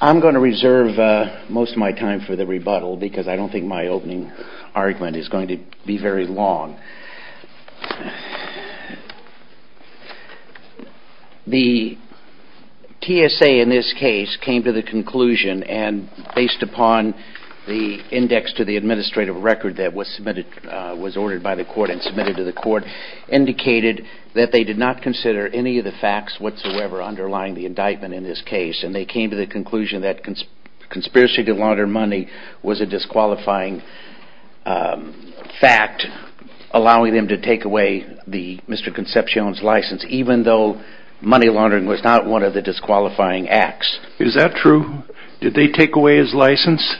I'm going to reserve most of my time for the rebuttal because I don't think my opening argument is going to be very long. The TSA in this case came to the conclusion and based upon the index to the administrative record that was submitted, was ordered by the court and submitted to the court, indicated that they did not consider any of the facts whatsoever underlying the indictment in this case and they came to the conclusion that conspiracy to launder money was a disqualifying fact allowing them to take away Mr. Concepcion's license even though money laundering was not one of the disqualifying acts. Is that true? Did they take away his license?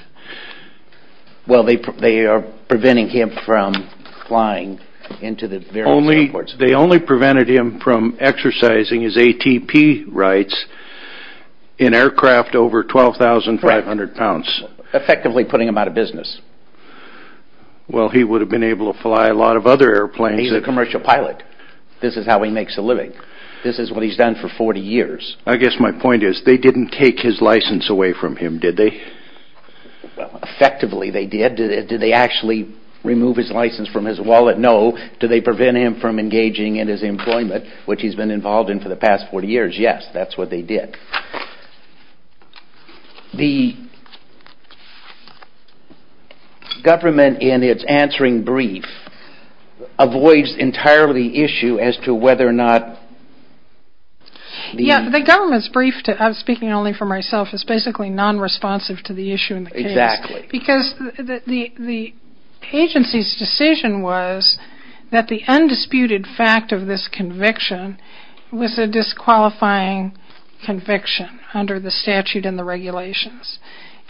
They only prevented him from exercising his ATP rights in aircraft over 12,500 pounds. Effectively putting him out of business. Well he would have been able to fly a lot of other airplanes. He's a commercial pilot. This is how he makes a living. This is what he's done for 40 years. I guess my point is they didn't take his license away from him, did they? Effectively they did. Did they actually remove his license from his wallet? No. Did they prevent him from engaging in his employment which he's been involved in for the past 40 years? Yes, that's what they did. The government in its answering brief avoids entirely the issue as to whether or not... Yeah, the government's brief, I'm speaking only for myself, is basically non-responsive to the issue in the case. Exactly. Because the agency's decision was that the undisputed fact of this conviction was a disqualifying conviction under the statute and the regulations.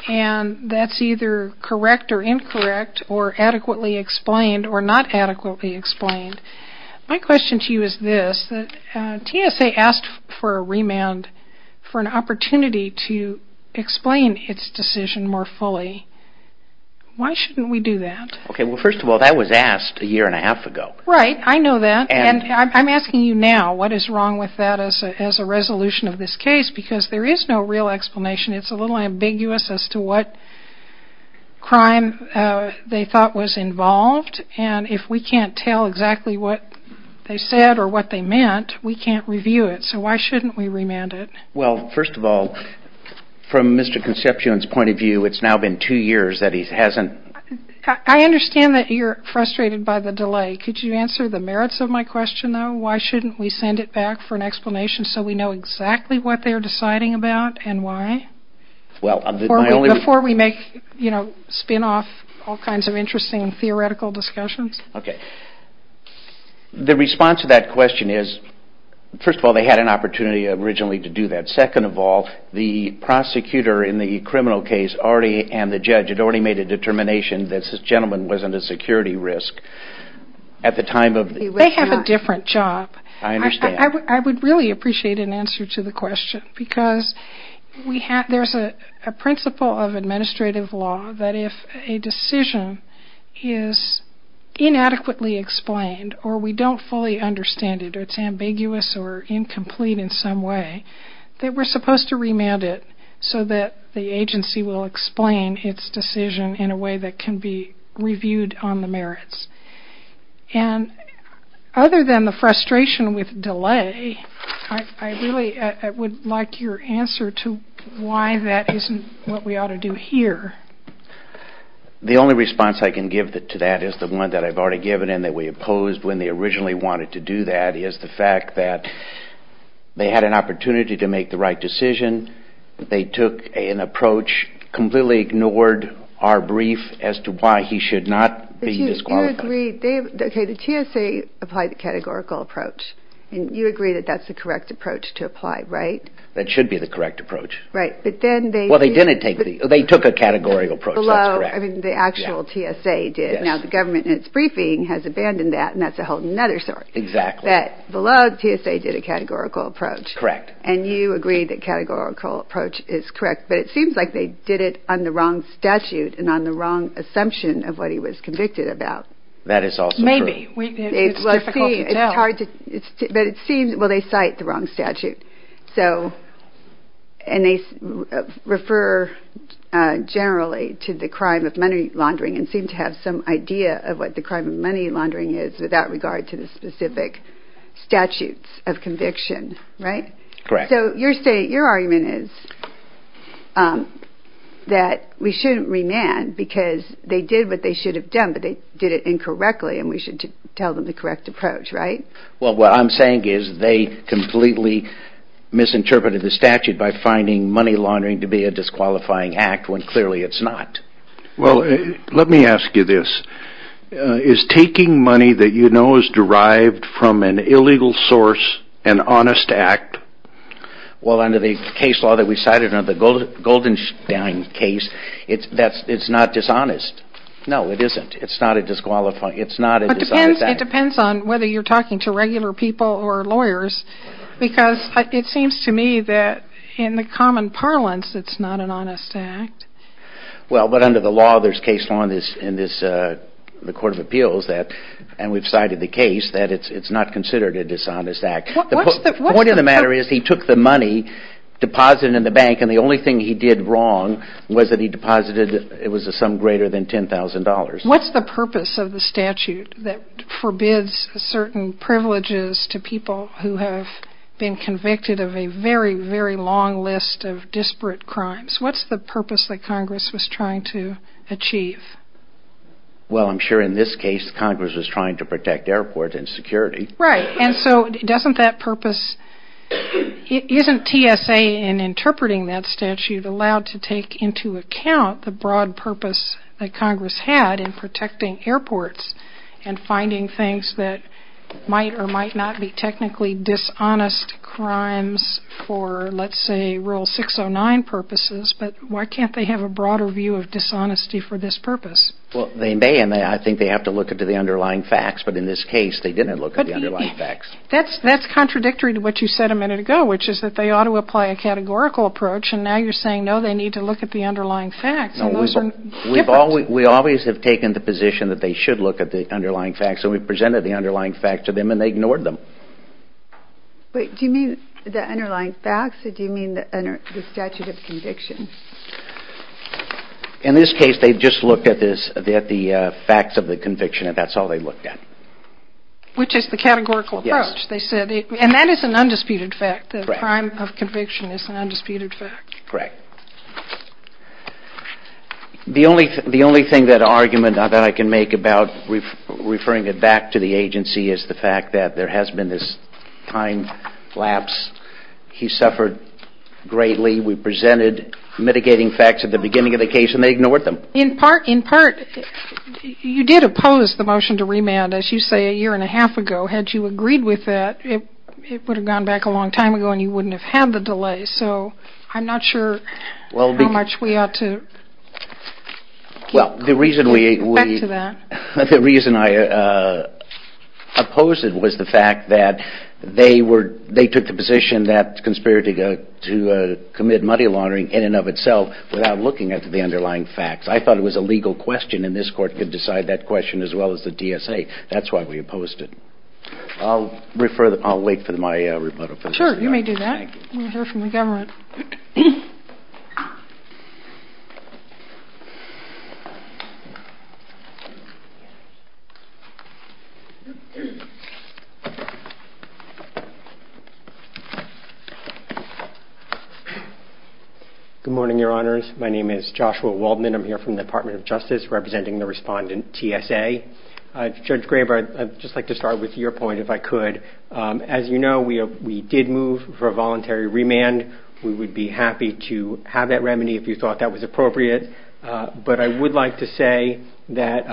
And that's either correct or incorrect or adequately explained or not adequately explained. My question to you is this. TSA asked for a remand for an opportunity to explain its decision more fully. Why shouldn't we do that? Okay, well first of all that was asked a year and a half ago. Right, I know that. And I'm asking you now what is wrong with that as a resolution of this case because there is no real explanation. It's a little ambiguous as to what crime they thought was involved and if we can't tell exactly what they said or what they meant, we can't review it. So why shouldn't we remand it? Well, first of all, from Mr. Concepcion's point of view, it's now been two years that he hasn't... I understand that you're frustrated by the delay. Could you answer the merits of my question though? Why shouldn't we send it back for an explanation so we know exactly what they're Before we make, you know, spin off all kinds of interesting theoretical discussions. Okay. The response to that question is, first of all, they had an opportunity originally to do that. Second of all, the prosecutor in the criminal case and the judge had already made a determination that this gentleman wasn't a security risk at the time of... They have a different job. I understand. I would really appreciate an answer to the question because there's a principle of administrative law that if a decision is inadequately explained or we don't fully understand it or it's ambiguous or incomplete in some way, that we're supposed to remand it so that the agency will explain its decision in a way that can be reviewed on the merits. And other than the frustration with delay, I really would like your answer to why that isn't what we ought to do here. The only response I can give to that is the one that I've already given and that we opposed when they originally wanted to do that is the fact that they had an opportunity to make the right decision. They took an approach, completely ignored our brief as to why he should not be disqualified. But you agreed... Okay, the TSA applied the categorical approach and you agree that that's the correct approach to apply, right? That should be the correct approach. Right, but then they... Well, they didn't take the... They took a categorical approach, that's correct. Below, I mean, the actual TSA did. Now, the government in its briefing has abandoned that and that's a whole other story. Exactly. That below, TSA did a categorical approach. Correct. And you agree that categorical approach is correct, but it seems like they did it on the wrong statute and on the wrong assumption of what he was convicted about. That is also true. Maybe. It's difficult to tell. But it seems... Well, they cite the wrong statute. So, and they refer generally to the crime of money laundering and seem to have some idea of what the crime of money laundering is without regard to the specific statutes of conviction, right? Correct. So, your argument is that we shouldn't remand because they did what they should have done, but they did it incorrectly and we should tell them the correct approach, right? Well, what I'm saying is they completely misinterpreted the statute by finding money laundering to be a disqualifying act when clearly it's not. Well, let me ask you this. Is taking money that you know is derived from an illegal source an honest act? Well, under the case law that we cited under the Goldenstein case, it's not dishonest. No, it isn't. It's not a disqualifying... It's not a dishonest act. It depends on whether you're talking to regular people or lawyers because it seems to me that in the common parlance, it's not an honest act. Well, but under the law, there's case law in the Court of Appeals that, and we've cited the case, that it's not considered a dishonest act. What's the... The point of the matter is he took the money, deposited it in the bank, and the only thing he did wrong was that he deposited... It was a sum greater than $10,000. What's the purpose of the statute that forbids certain privileges to people who have been convicted of a very, very long list of disparate crimes? What's the purpose that Congress was trying to achieve? Well, I'm sure in this case, Congress was trying to protect airports and security. Right, and so doesn't that purpose... Isn't TSA in interpreting that statute allowed to take into account the broad purpose that Congress had in protecting airports and finding things that might or might not be technically dishonest crimes for, let's say, Rule 609 purposes, but why can't they have a broader view of dishonesty for this purpose? Well, they may, and I think they have to look into the underlying facts, but in this case, they didn't look at the underlying facts. That's contradictory to what you said a minute ago, which is that they ought to apply a categorical approach, and now you're saying, no, they need to look at the underlying facts, and those are different. No, we always have taken the position that they should look at the underlying facts, and we've presented the underlying facts to them, and they ignored them. Wait, do you mean the underlying facts, or do you mean the statute of conviction? In this case, they just looked at the facts of the conviction, and that's all they looked at. Which is the categorical approach, they said, and that is an undisputed fact, the crime of conviction is an undisputed fact. Correct. The only thing that argument that I can make about referring it back to the agency is the fact that there has been this time lapse. He suffered greatly. We presented mitigating facts at the beginning of the case, and they ignored them. In part, you did oppose the motion to remand, as you say, a year and a half ago. Had you agreed with that, it would have gone back a long time ago, and you wouldn't have had the delay, so I'm not sure how much we ought to keep going back to that. The reason I opposed it was the fact that they took the position that conspiracy to commit money laundering in and of itself without looking at the underlying facts. I thought it was a legal question, and this court could decide that question as well as the DSA. That's why we opposed it. I'll wait for my rebuttal. Sure, you may do that. Good morning, Your Honors. My name is Joshua Waldman. I'm here from the Department of Justice representing the respondent, TSA. Judge Graber, I'd just like to start with your point, if I could. As you know, we did move for a voluntary remand. We would be happy to have that remedy if you thought that was appropriate, but I would like to say that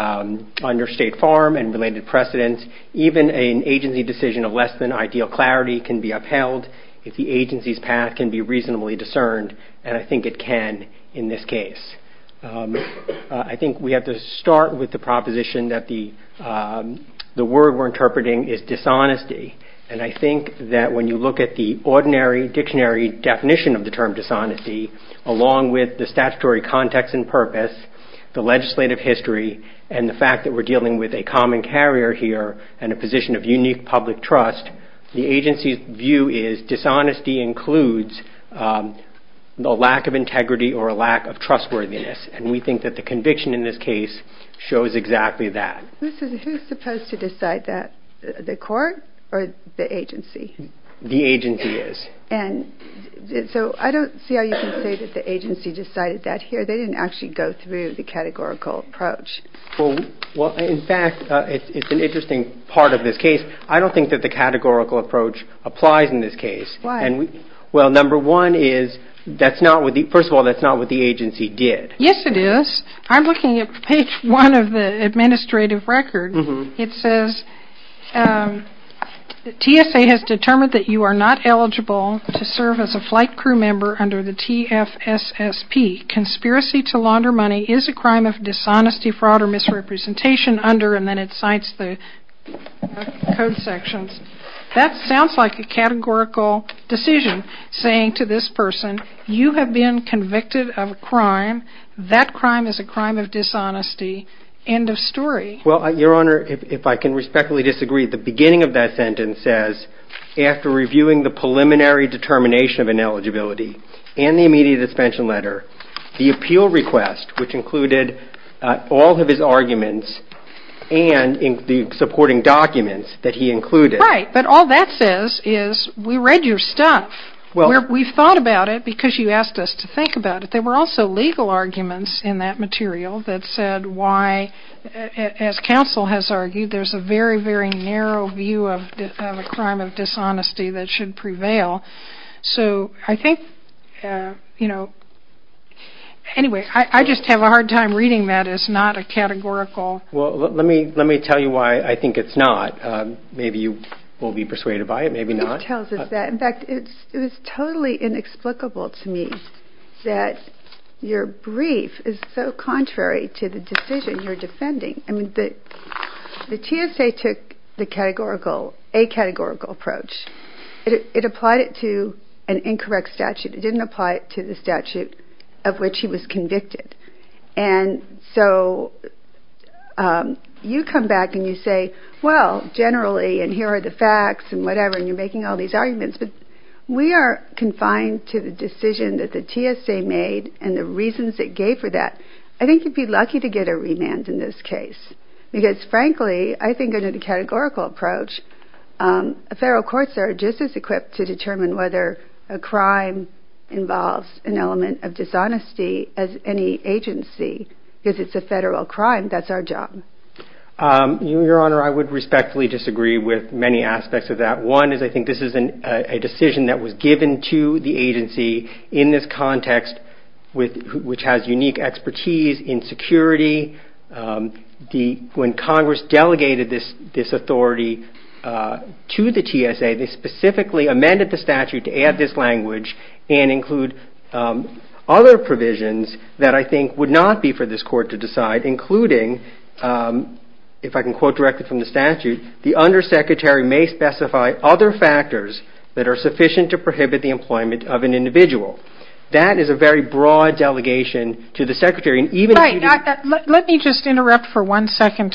under State Farm and related precedents, even an agency decision of less than ideal clarity can be upheld if the agency's path can be reasonably discerned, and I think it can in this case. I think we have to start with the proposition that the word we're interpreting is dishonesty, and I think that when you look at the ordinary dictionary definition of the term dishonesty, along with the statutory context and purpose, the legislative history, and the fact that we're dealing with a common carrier here and a position of unique public trust, the agency's view is dishonesty includes a lack of integrity or a lack of trustworthiness, and we think that the conviction in this case shows exactly that. Who's supposed to decide that, the court or the agency? The agency is. And so I don't see how you can say that the agency decided that here. They didn't actually go through the categorical approach. Well, in fact, it's an interesting part of this case. I don't think that the categorical approach applies in this case. Why? Well, number one is, first of all, that's not what the agency did. Yes, it is. I'm looking at page one of the administrative record. It says TSA has determined that you are not eligible to serve as a flight crew member under the TFSSP. Conspiracy to launder money is a crime of dishonesty, fraud, or misrepresentation under, and then it cites the code sections. That sounds like a categorical decision, saying to this person, you have been convicted of a crime. That crime is a crime of dishonesty. End of story. Well, Your Honor, if I can respectfully disagree, the beginning of that sentence says, after reviewing the preliminary determination of ineligibility and the immediate suspension letter, the appeal request, which included all of his arguments and the supporting documents that he included. Right. But all that says is, we read your stuff. We thought about it because you asked us to think about it. There were also legal arguments in that material that said why, as counsel has argued, there's a very, very narrow view of a crime of dishonesty that should prevail. So I think, you know, anyway, I just have a hard time reading that as not a categorical. Well, let me tell you why I think it's not. Maybe you will be persuaded by it, maybe not. It tells us that. In fact, it was totally inexplicable to me that your brief is so contrary to the decision you're defending. I mean, the TSA took the categorical, a categorical approach. It applied it to an incorrect statute. It didn't apply it to the statute of which he was convicted. And so you come back and you say, well, generally, and here are the facts and whatever, and you're making all these arguments, but we are confined to the decision that the TSA made and the reasons it gave for that. I think you'd be lucky to get a remand in this case because, frankly, I think under the categorical approach, a federal court judge is equipped to determine whether a crime involves an element of dishonesty as any agency. If it's a federal crime, that's our job. Your Honor, I would respectfully disagree with many aspects of that. One is I think this is a decision that was given to the agency in this context, which has unique expertise in security. When Congress delegated this authority to the TSA, they specifically amended the statute to add this language and include other provisions that I think would not be for this court to decide, including, if I can quote directly from the statute, the undersecretary may specify other factors that are sufficient to prohibit the employment of an individual. That is a very broad delegation to the secretary. Let me just interrupt for one second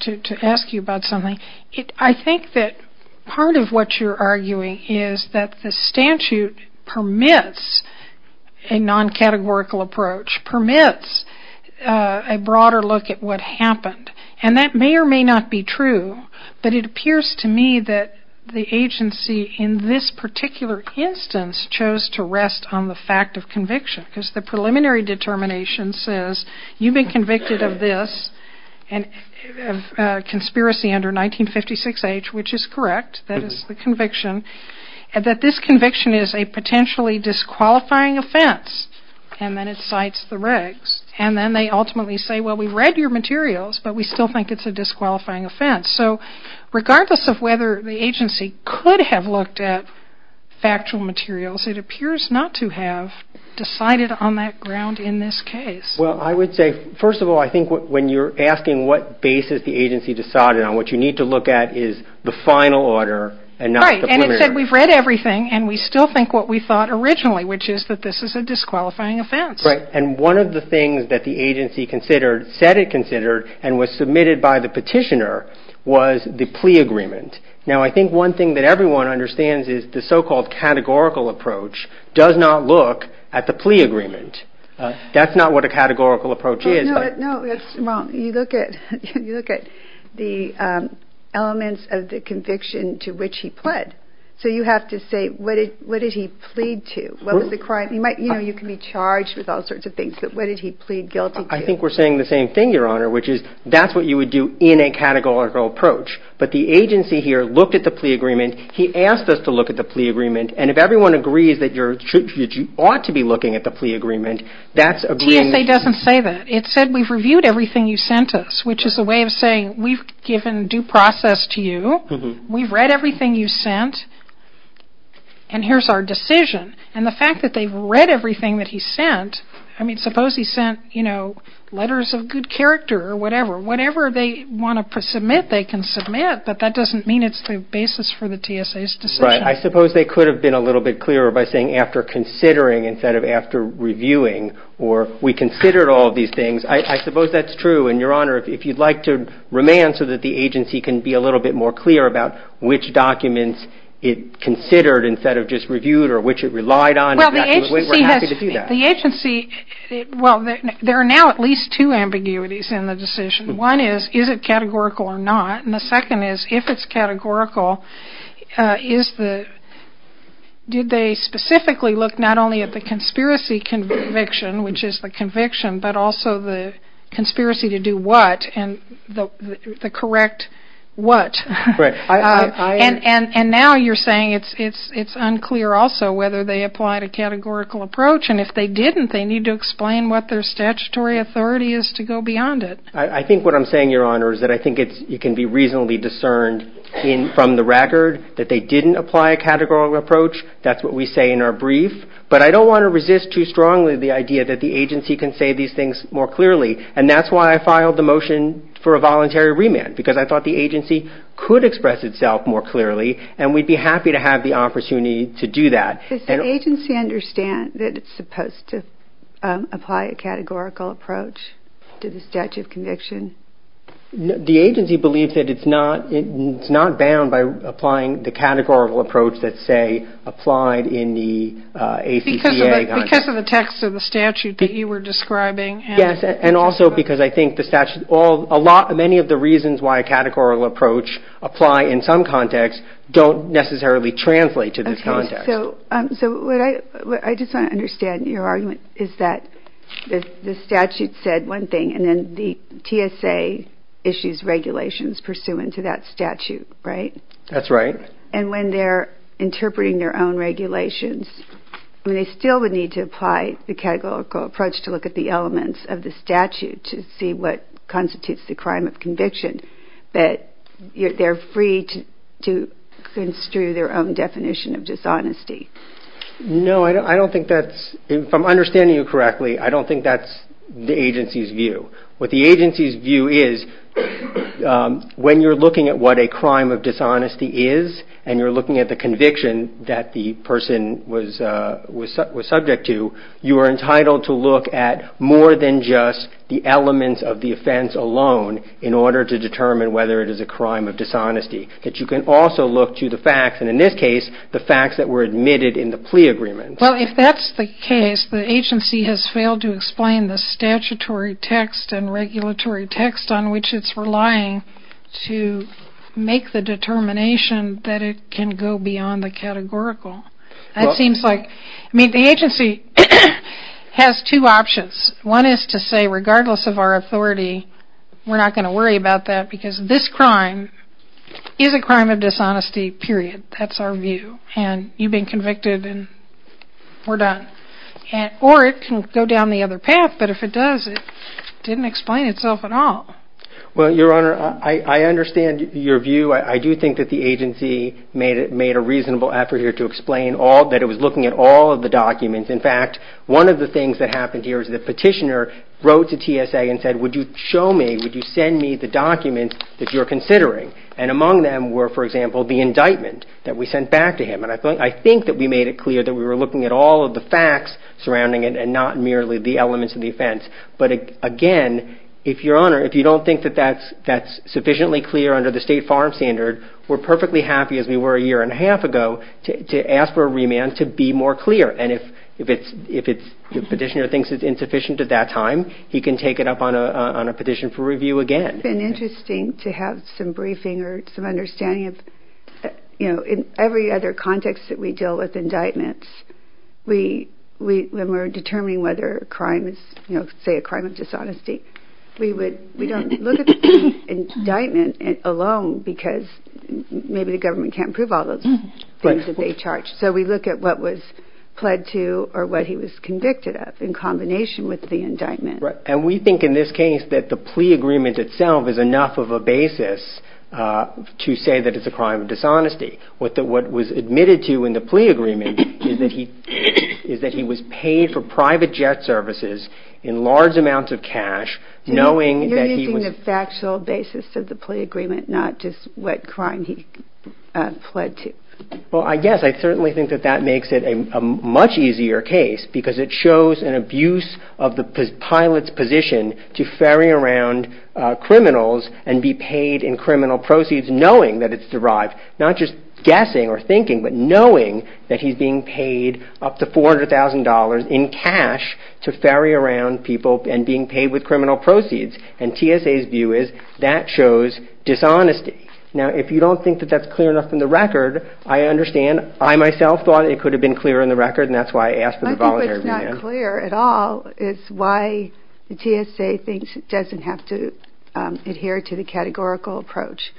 to ask you about something. I think that part of what you're arguing is that the statute permits a non-categorical approach, permits a broader look at what happened. And that may or may not be true, but it appears to me that the agency in this particular instance chose to rest on the fact of conviction because the preliminary determination says you've been convicted of this conspiracy under 1956H, which is correct, that is the conviction, and that this conviction is a potentially disqualifying offense. And then it cites the regs. And then they ultimately say, well, we've read your materials, but we still think it's a disqualifying offense. So regardless of whether the agency could have looked at factual materials, it appears not to have decided on that ground in this case. Well, I would say, first of all, I think when you're asking what basis the agency decided on, what you need to look at is the final order and not the preliminary. Right, and it said we've read everything and we still think what we thought originally, which is that this is a disqualifying offense. Right, and one of the things that the agency considered, said it considered, and was submitted by the petitioner was the plea agreement. Now, I think one thing that everyone understands is the so-called categorical approach does not look at the plea agreement. That's not what a categorical approach is. No, that's wrong. You look at the elements of the conviction to which he pled. So you have to say what did he plead to? What was the crime? You know, you can be charged with all sorts of things, but what did he plead guilty to? I think we're saying the same thing, Your Honor, which is that's what you would do in a categorical approach. But the agency here looked at the plea agreement. He asked us to look at the plea agreement, and if everyone agrees that you ought to be looking at the plea agreement, that's agreeing. TSA doesn't say that. It said we've reviewed everything you sent us, which is a way of saying we've given due process to you. We've read everything you sent, and here's our decision. And the fact that they've read everything that he sent, I mean, suppose he sent, you know, letters of good character or whatever. Whatever they want to submit, they can submit, but that doesn't mean it's the basis for the TSA's decision. Right. I suppose they could have been a little bit clearer by saying after considering instead of after reviewing, or we considered all of these things. I suppose that's true, and, Your Honor, if you'd like to remand so that the agency can be a little bit more clear about which documents it considered instead of just reviewed or which it relied on, we're happy to do that. The agency, well, there are now at least two ambiguities in the decision. One is, is it categorical or not? And the second is, if it's categorical, did they specifically look not only at the conspiracy conviction, which is the conviction, but also the conspiracy to do what and the correct what? Right. And now you're saying it's unclear also whether they applied a categorical approach, and if they didn't, they need to explain what their statutory authority is to go beyond it. I think what I'm saying, Your Honor, is that I think it can be reasonably discerned from the record that they didn't apply a categorical approach. That's what we say in our brief. But I don't want to resist too strongly the idea that the agency can say these things more clearly, and that's why I filed the motion for a voluntary remand, because I thought the agency could express itself more clearly, and we'd be happy to have the opportunity to do that. Does the agency understand that it's supposed to apply a categorical approach to the statute of conviction? The agency believes that it's not bound by applying the categorical approach that's, say, applied in the ACCA. Because of the text of the statute that you were describing. Yes, and also because I think the statute, many of the reasons why a categorical approach apply in some contexts don't necessarily translate to this context. So what I just want to understand in your argument is that the statute said one thing, and then the TSA issues regulations pursuant to that statute, right? That's right. And when they're interpreting their own regulations, they still would need to apply the categorical approach to look at the elements of the statute to see what constitutes the crime of conviction. But they're free to construe their own definition of dishonesty. No, I don't think that's, if I'm understanding you correctly, I don't think that's the agency's view. What the agency's view is, when you're looking at what a crime of dishonesty is, and you're looking at the conviction that the person was subject to, you are entitled to look at more than just the elements of the offense alone in order to determine whether it is a crime of dishonesty. That you can also look to the facts, and in this case, the facts that were admitted in the plea agreement. Well, if that's the case, the agency has failed to explain the statutory text and regulatory text on which it's relying to make the determination that it can go beyond the categorical. That seems like, I mean, the agency has two options. One is to say, regardless of our authority, we're not going to worry about that because this crime is a crime of dishonesty, period. That's our view, and you've been convicted, and we're done. Or it can go down the other path, but if it does, it didn't explain itself at all. Well, Your Honor, I understand your view. I do think that the agency made a reasonable effort here to explain that it was looking at all of the documents. In fact, one of the things that happened here is the petitioner wrote to TSA and said, would you show me, would you send me the documents that you're considering? And among them were, for example, the indictment that we sent back to him, and I think that we made it clear that we were looking at all of the facts surrounding it and not merely the elements of the offense. But, again, if Your Honor, if you don't think that that's sufficiently clear under the State Farm Standard, we're perfectly happy, as we were a year and a half ago, to ask for a remand to be more clear. And if the petitioner thinks it's insufficient at that time, he can take it up on a petition for review again. It's been interesting to have some briefing or some understanding of, you know, in every other context that we deal with indictments, when we're determining whether a crime is, you know, say a crime of dishonesty, we don't look at the indictment alone because maybe the government can't prove all those things that they charged. So we look at what was pled to or what he was convicted of in combination with the indictment. And we think in this case that the plea agreement itself is enough of a basis to say that it's a crime of dishonesty. What was admitted to in the plea agreement is that he was paid for private jet services in large amounts of cash, knowing that he was... You're using the factual basis of the plea agreement, not just what crime he pled to. Well, I guess I certainly think that that makes it a much easier case because it shows an abuse of the pilot's position to ferry around criminals and be paid in criminal proceeds knowing that it's derived, not just guessing or thinking, but knowing that he's being paid up to $400,000 in cash to ferry around people and being paid with criminal proceeds. And TSA's view is that shows dishonesty. Now, if you don't think that that's clear enough in the record, I understand. I myself thought it could have been clear in the record, and that's why I asked for the voluntary review. What's not clear at all is why the TSA thinks it doesn't have to adhere to the categorical approach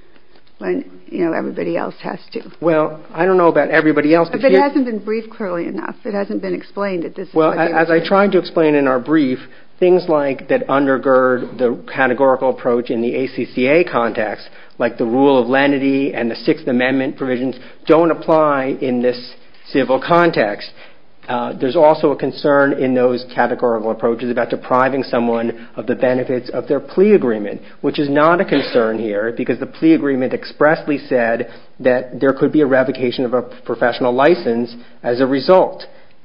when, you know, everybody else has to. Well, I don't know about everybody else. But it hasn't been briefed clearly enough. It hasn't been explained. Well, as I tried to explain in our brief, things like that undergird the categorical approach in the ACCA context, like the rule of lenity and the Sixth Amendment provisions, don't apply in this civil context. There's also a concern in those categorical approaches about depriving someone of the benefits of their plea agreement, which is not a concern here because the plea agreement expressly said that there could be a revocation of a professional license as a result.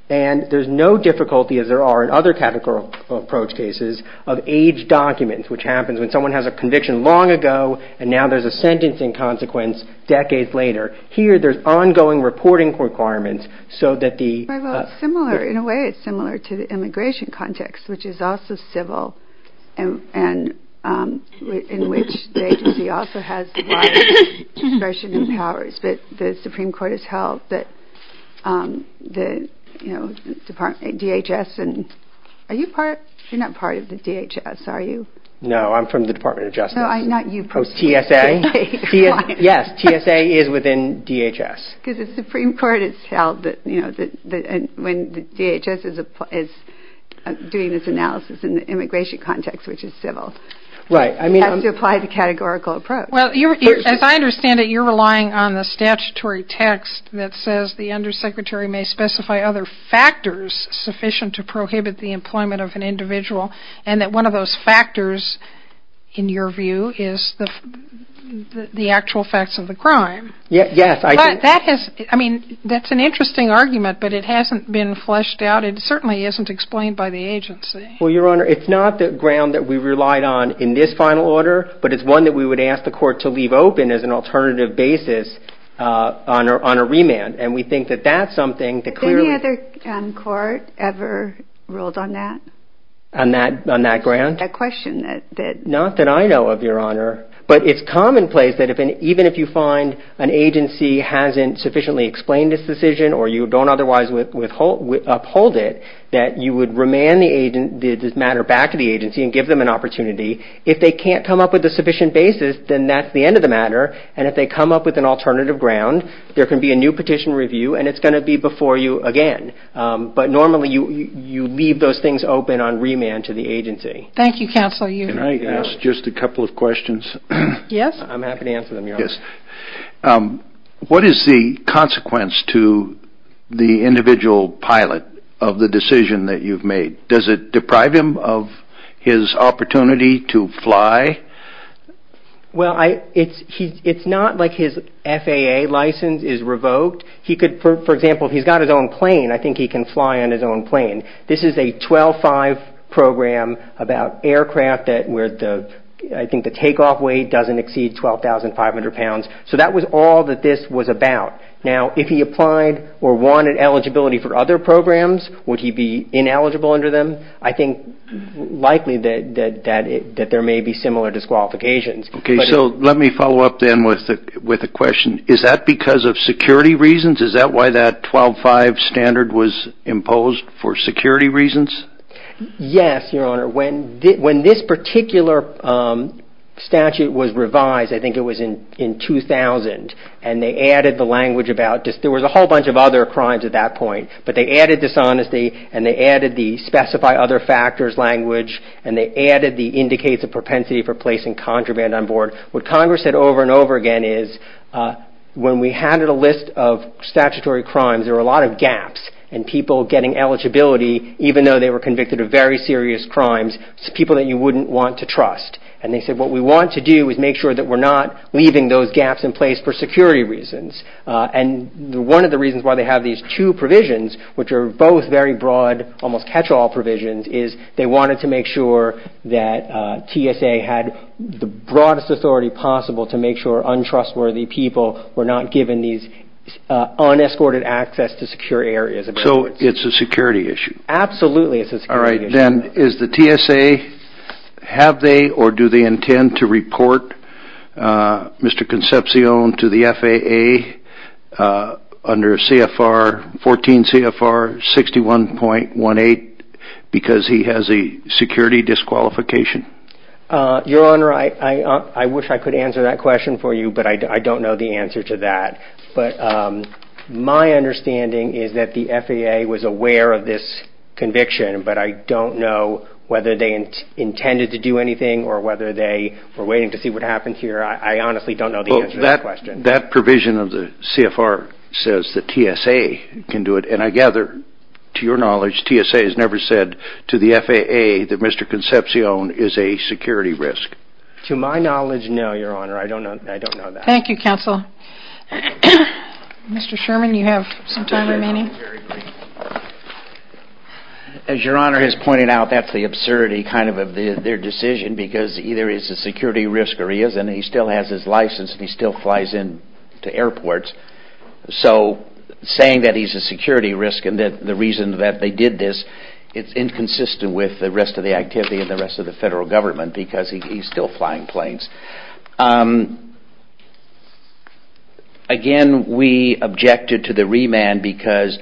And there's no difficulty, as there are in other categorical approach cases, of age documents, which happens when someone has a conviction long ago and now there's a sentencing consequence decades later. Here, there's ongoing reporting requirements so that the... Well, it's similar. In a way, it's similar to the immigration context, which is also civil and in which the agency also has a lot of discretion and powers. But the Supreme Court has held that, you know, DHS and... Are you part... You're not part of the DHS, are you? No, I'm from the Department of Justice. No, not you. Oh, TSA? Yes, TSA is within DHS. Because the Supreme Court has held that, you know, when DHS is doing this analysis in the immigration context, which is civil... Right, I mean... ...has to apply the categorical approach. Well, as I understand it, you're relying on the statutory text that says the undersecretary may specify other factors sufficient to prohibit the employment of an individual and that one of those factors, in your view, is the actual facts of the crime. Yes, I... But that has... I mean, that's an interesting argument, but it hasn't been fleshed out. It certainly isn't explained by the agency. Well, Your Honor, it's not the ground that we relied on in this final order, but it's one that we would ask the court to leave open as an alternative basis on a remand. And we think that that's something that clearly... Any other court ever ruled on that? On that ground? That question that... Not that I know of, Your Honor. But it's commonplace that even if you find an agency hasn't sufficiently explained this decision or you don't otherwise uphold it, that you would remand the matter back to the agency and give them an opportunity. If they can't come up with a sufficient basis, then that's the end of the matter. And if they come up with an alternative ground, there can be a new petition review and it's going to be before you again. But normally you leave those things open on remand to the agency. Thank you, Counsel. Can I ask just a couple of questions? Yes. I'm happy to answer them, Your Honor. Yes. What is the consequence to the individual pilot of the decision that you've made? Does it deprive him of his opportunity to fly? Well, it's not like his FAA license is revoked. He could, for example, if he's got his own plane, I think he can fly on his own plane. This is a 12-5 program about aircraft where I think the takeoff weight doesn't exceed 12,500 pounds. So that was all that this was about. Now, if he applied or wanted eligibility for other programs, would he be ineligible under them? I think likely that there may be similar disqualifications. Okay. So let me follow up then with a question. Is that because of security reasons? Is that why that 12-5 standard was imposed for security reasons? Yes, Your Honor. When this particular statute was revised, I think it was in 2000, and they added the language about just there was a whole bunch of other crimes at that point, but they added dishonesty and they added the specify other factors language and they added the indicates of propensity for placing contraband on board. What Congress said over and over again is when we handed a list of statutory crimes, there were a lot of gaps and people getting eligibility, even though they were convicted of very serious crimes, people that you wouldn't want to trust. And they said what we want to do is make sure that we're not leaving those gaps in place for security reasons. And one of the reasons why they have these two provisions, which are both very broad, almost catch-all provisions, is they wanted to make sure that TSA had the broadest authority possible to make sure untrustworthy people were not given these unescorted access to secure areas. So it's a security issue. Absolutely it's a security issue. Mr. Dent, is the TSA, have they or do they intend to report Mr. Concepcion to the FAA under CFR 14, CFR 61.18 because he has a security disqualification? Your Honor, I wish I could answer that question for you, but I don't know the answer to that. My understanding is that the FAA was aware of this conviction, but I don't know whether they intended to do anything or whether they were waiting to see what happened here. I honestly don't know the answer to that question. That provision of the CFR says that TSA can do it. And I gather, to your knowledge, TSA has never said to the FAA that Mr. Concepcion is a security risk. To my knowledge, no, Your Honor. I don't know that. Thank you, Counsel. Mr. Sherman, you have some time remaining. As Your Honor has pointed out, that's the absurdity kind of of their decision because either he's a security risk or he isn't. He still has his license and he still flies in to airports. So saying that he's a security risk and the reason that they did this, it's inconsistent with the rest of the activity of the rest of the federal government because he's still flying planes. Again, we objected to the remand because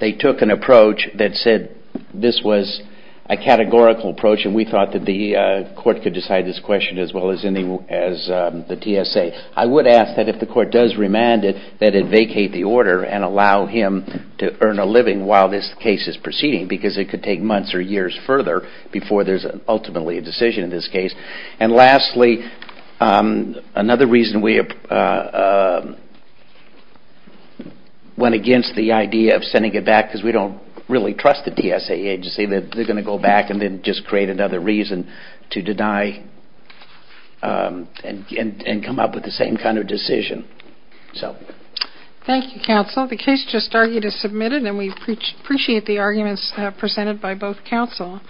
they took an approach that said this was a categorical approach and we thought that the court could decide this question as well as the TSA. I would ask that if the court does remand it, that it vacate the order and allow him to earn a living while this case is proceeding because it could take months or years further before there's ultimately a decision in this case. And lastly, another reason we went against the idea of sending it back because we don't really trust the TSA agency that they're going to go back and then just create another reason to deny and come up with the same kind of decision. Thank you, Counsel. The case just argued is submitted and we appreciate the arguments presented by both Counsel.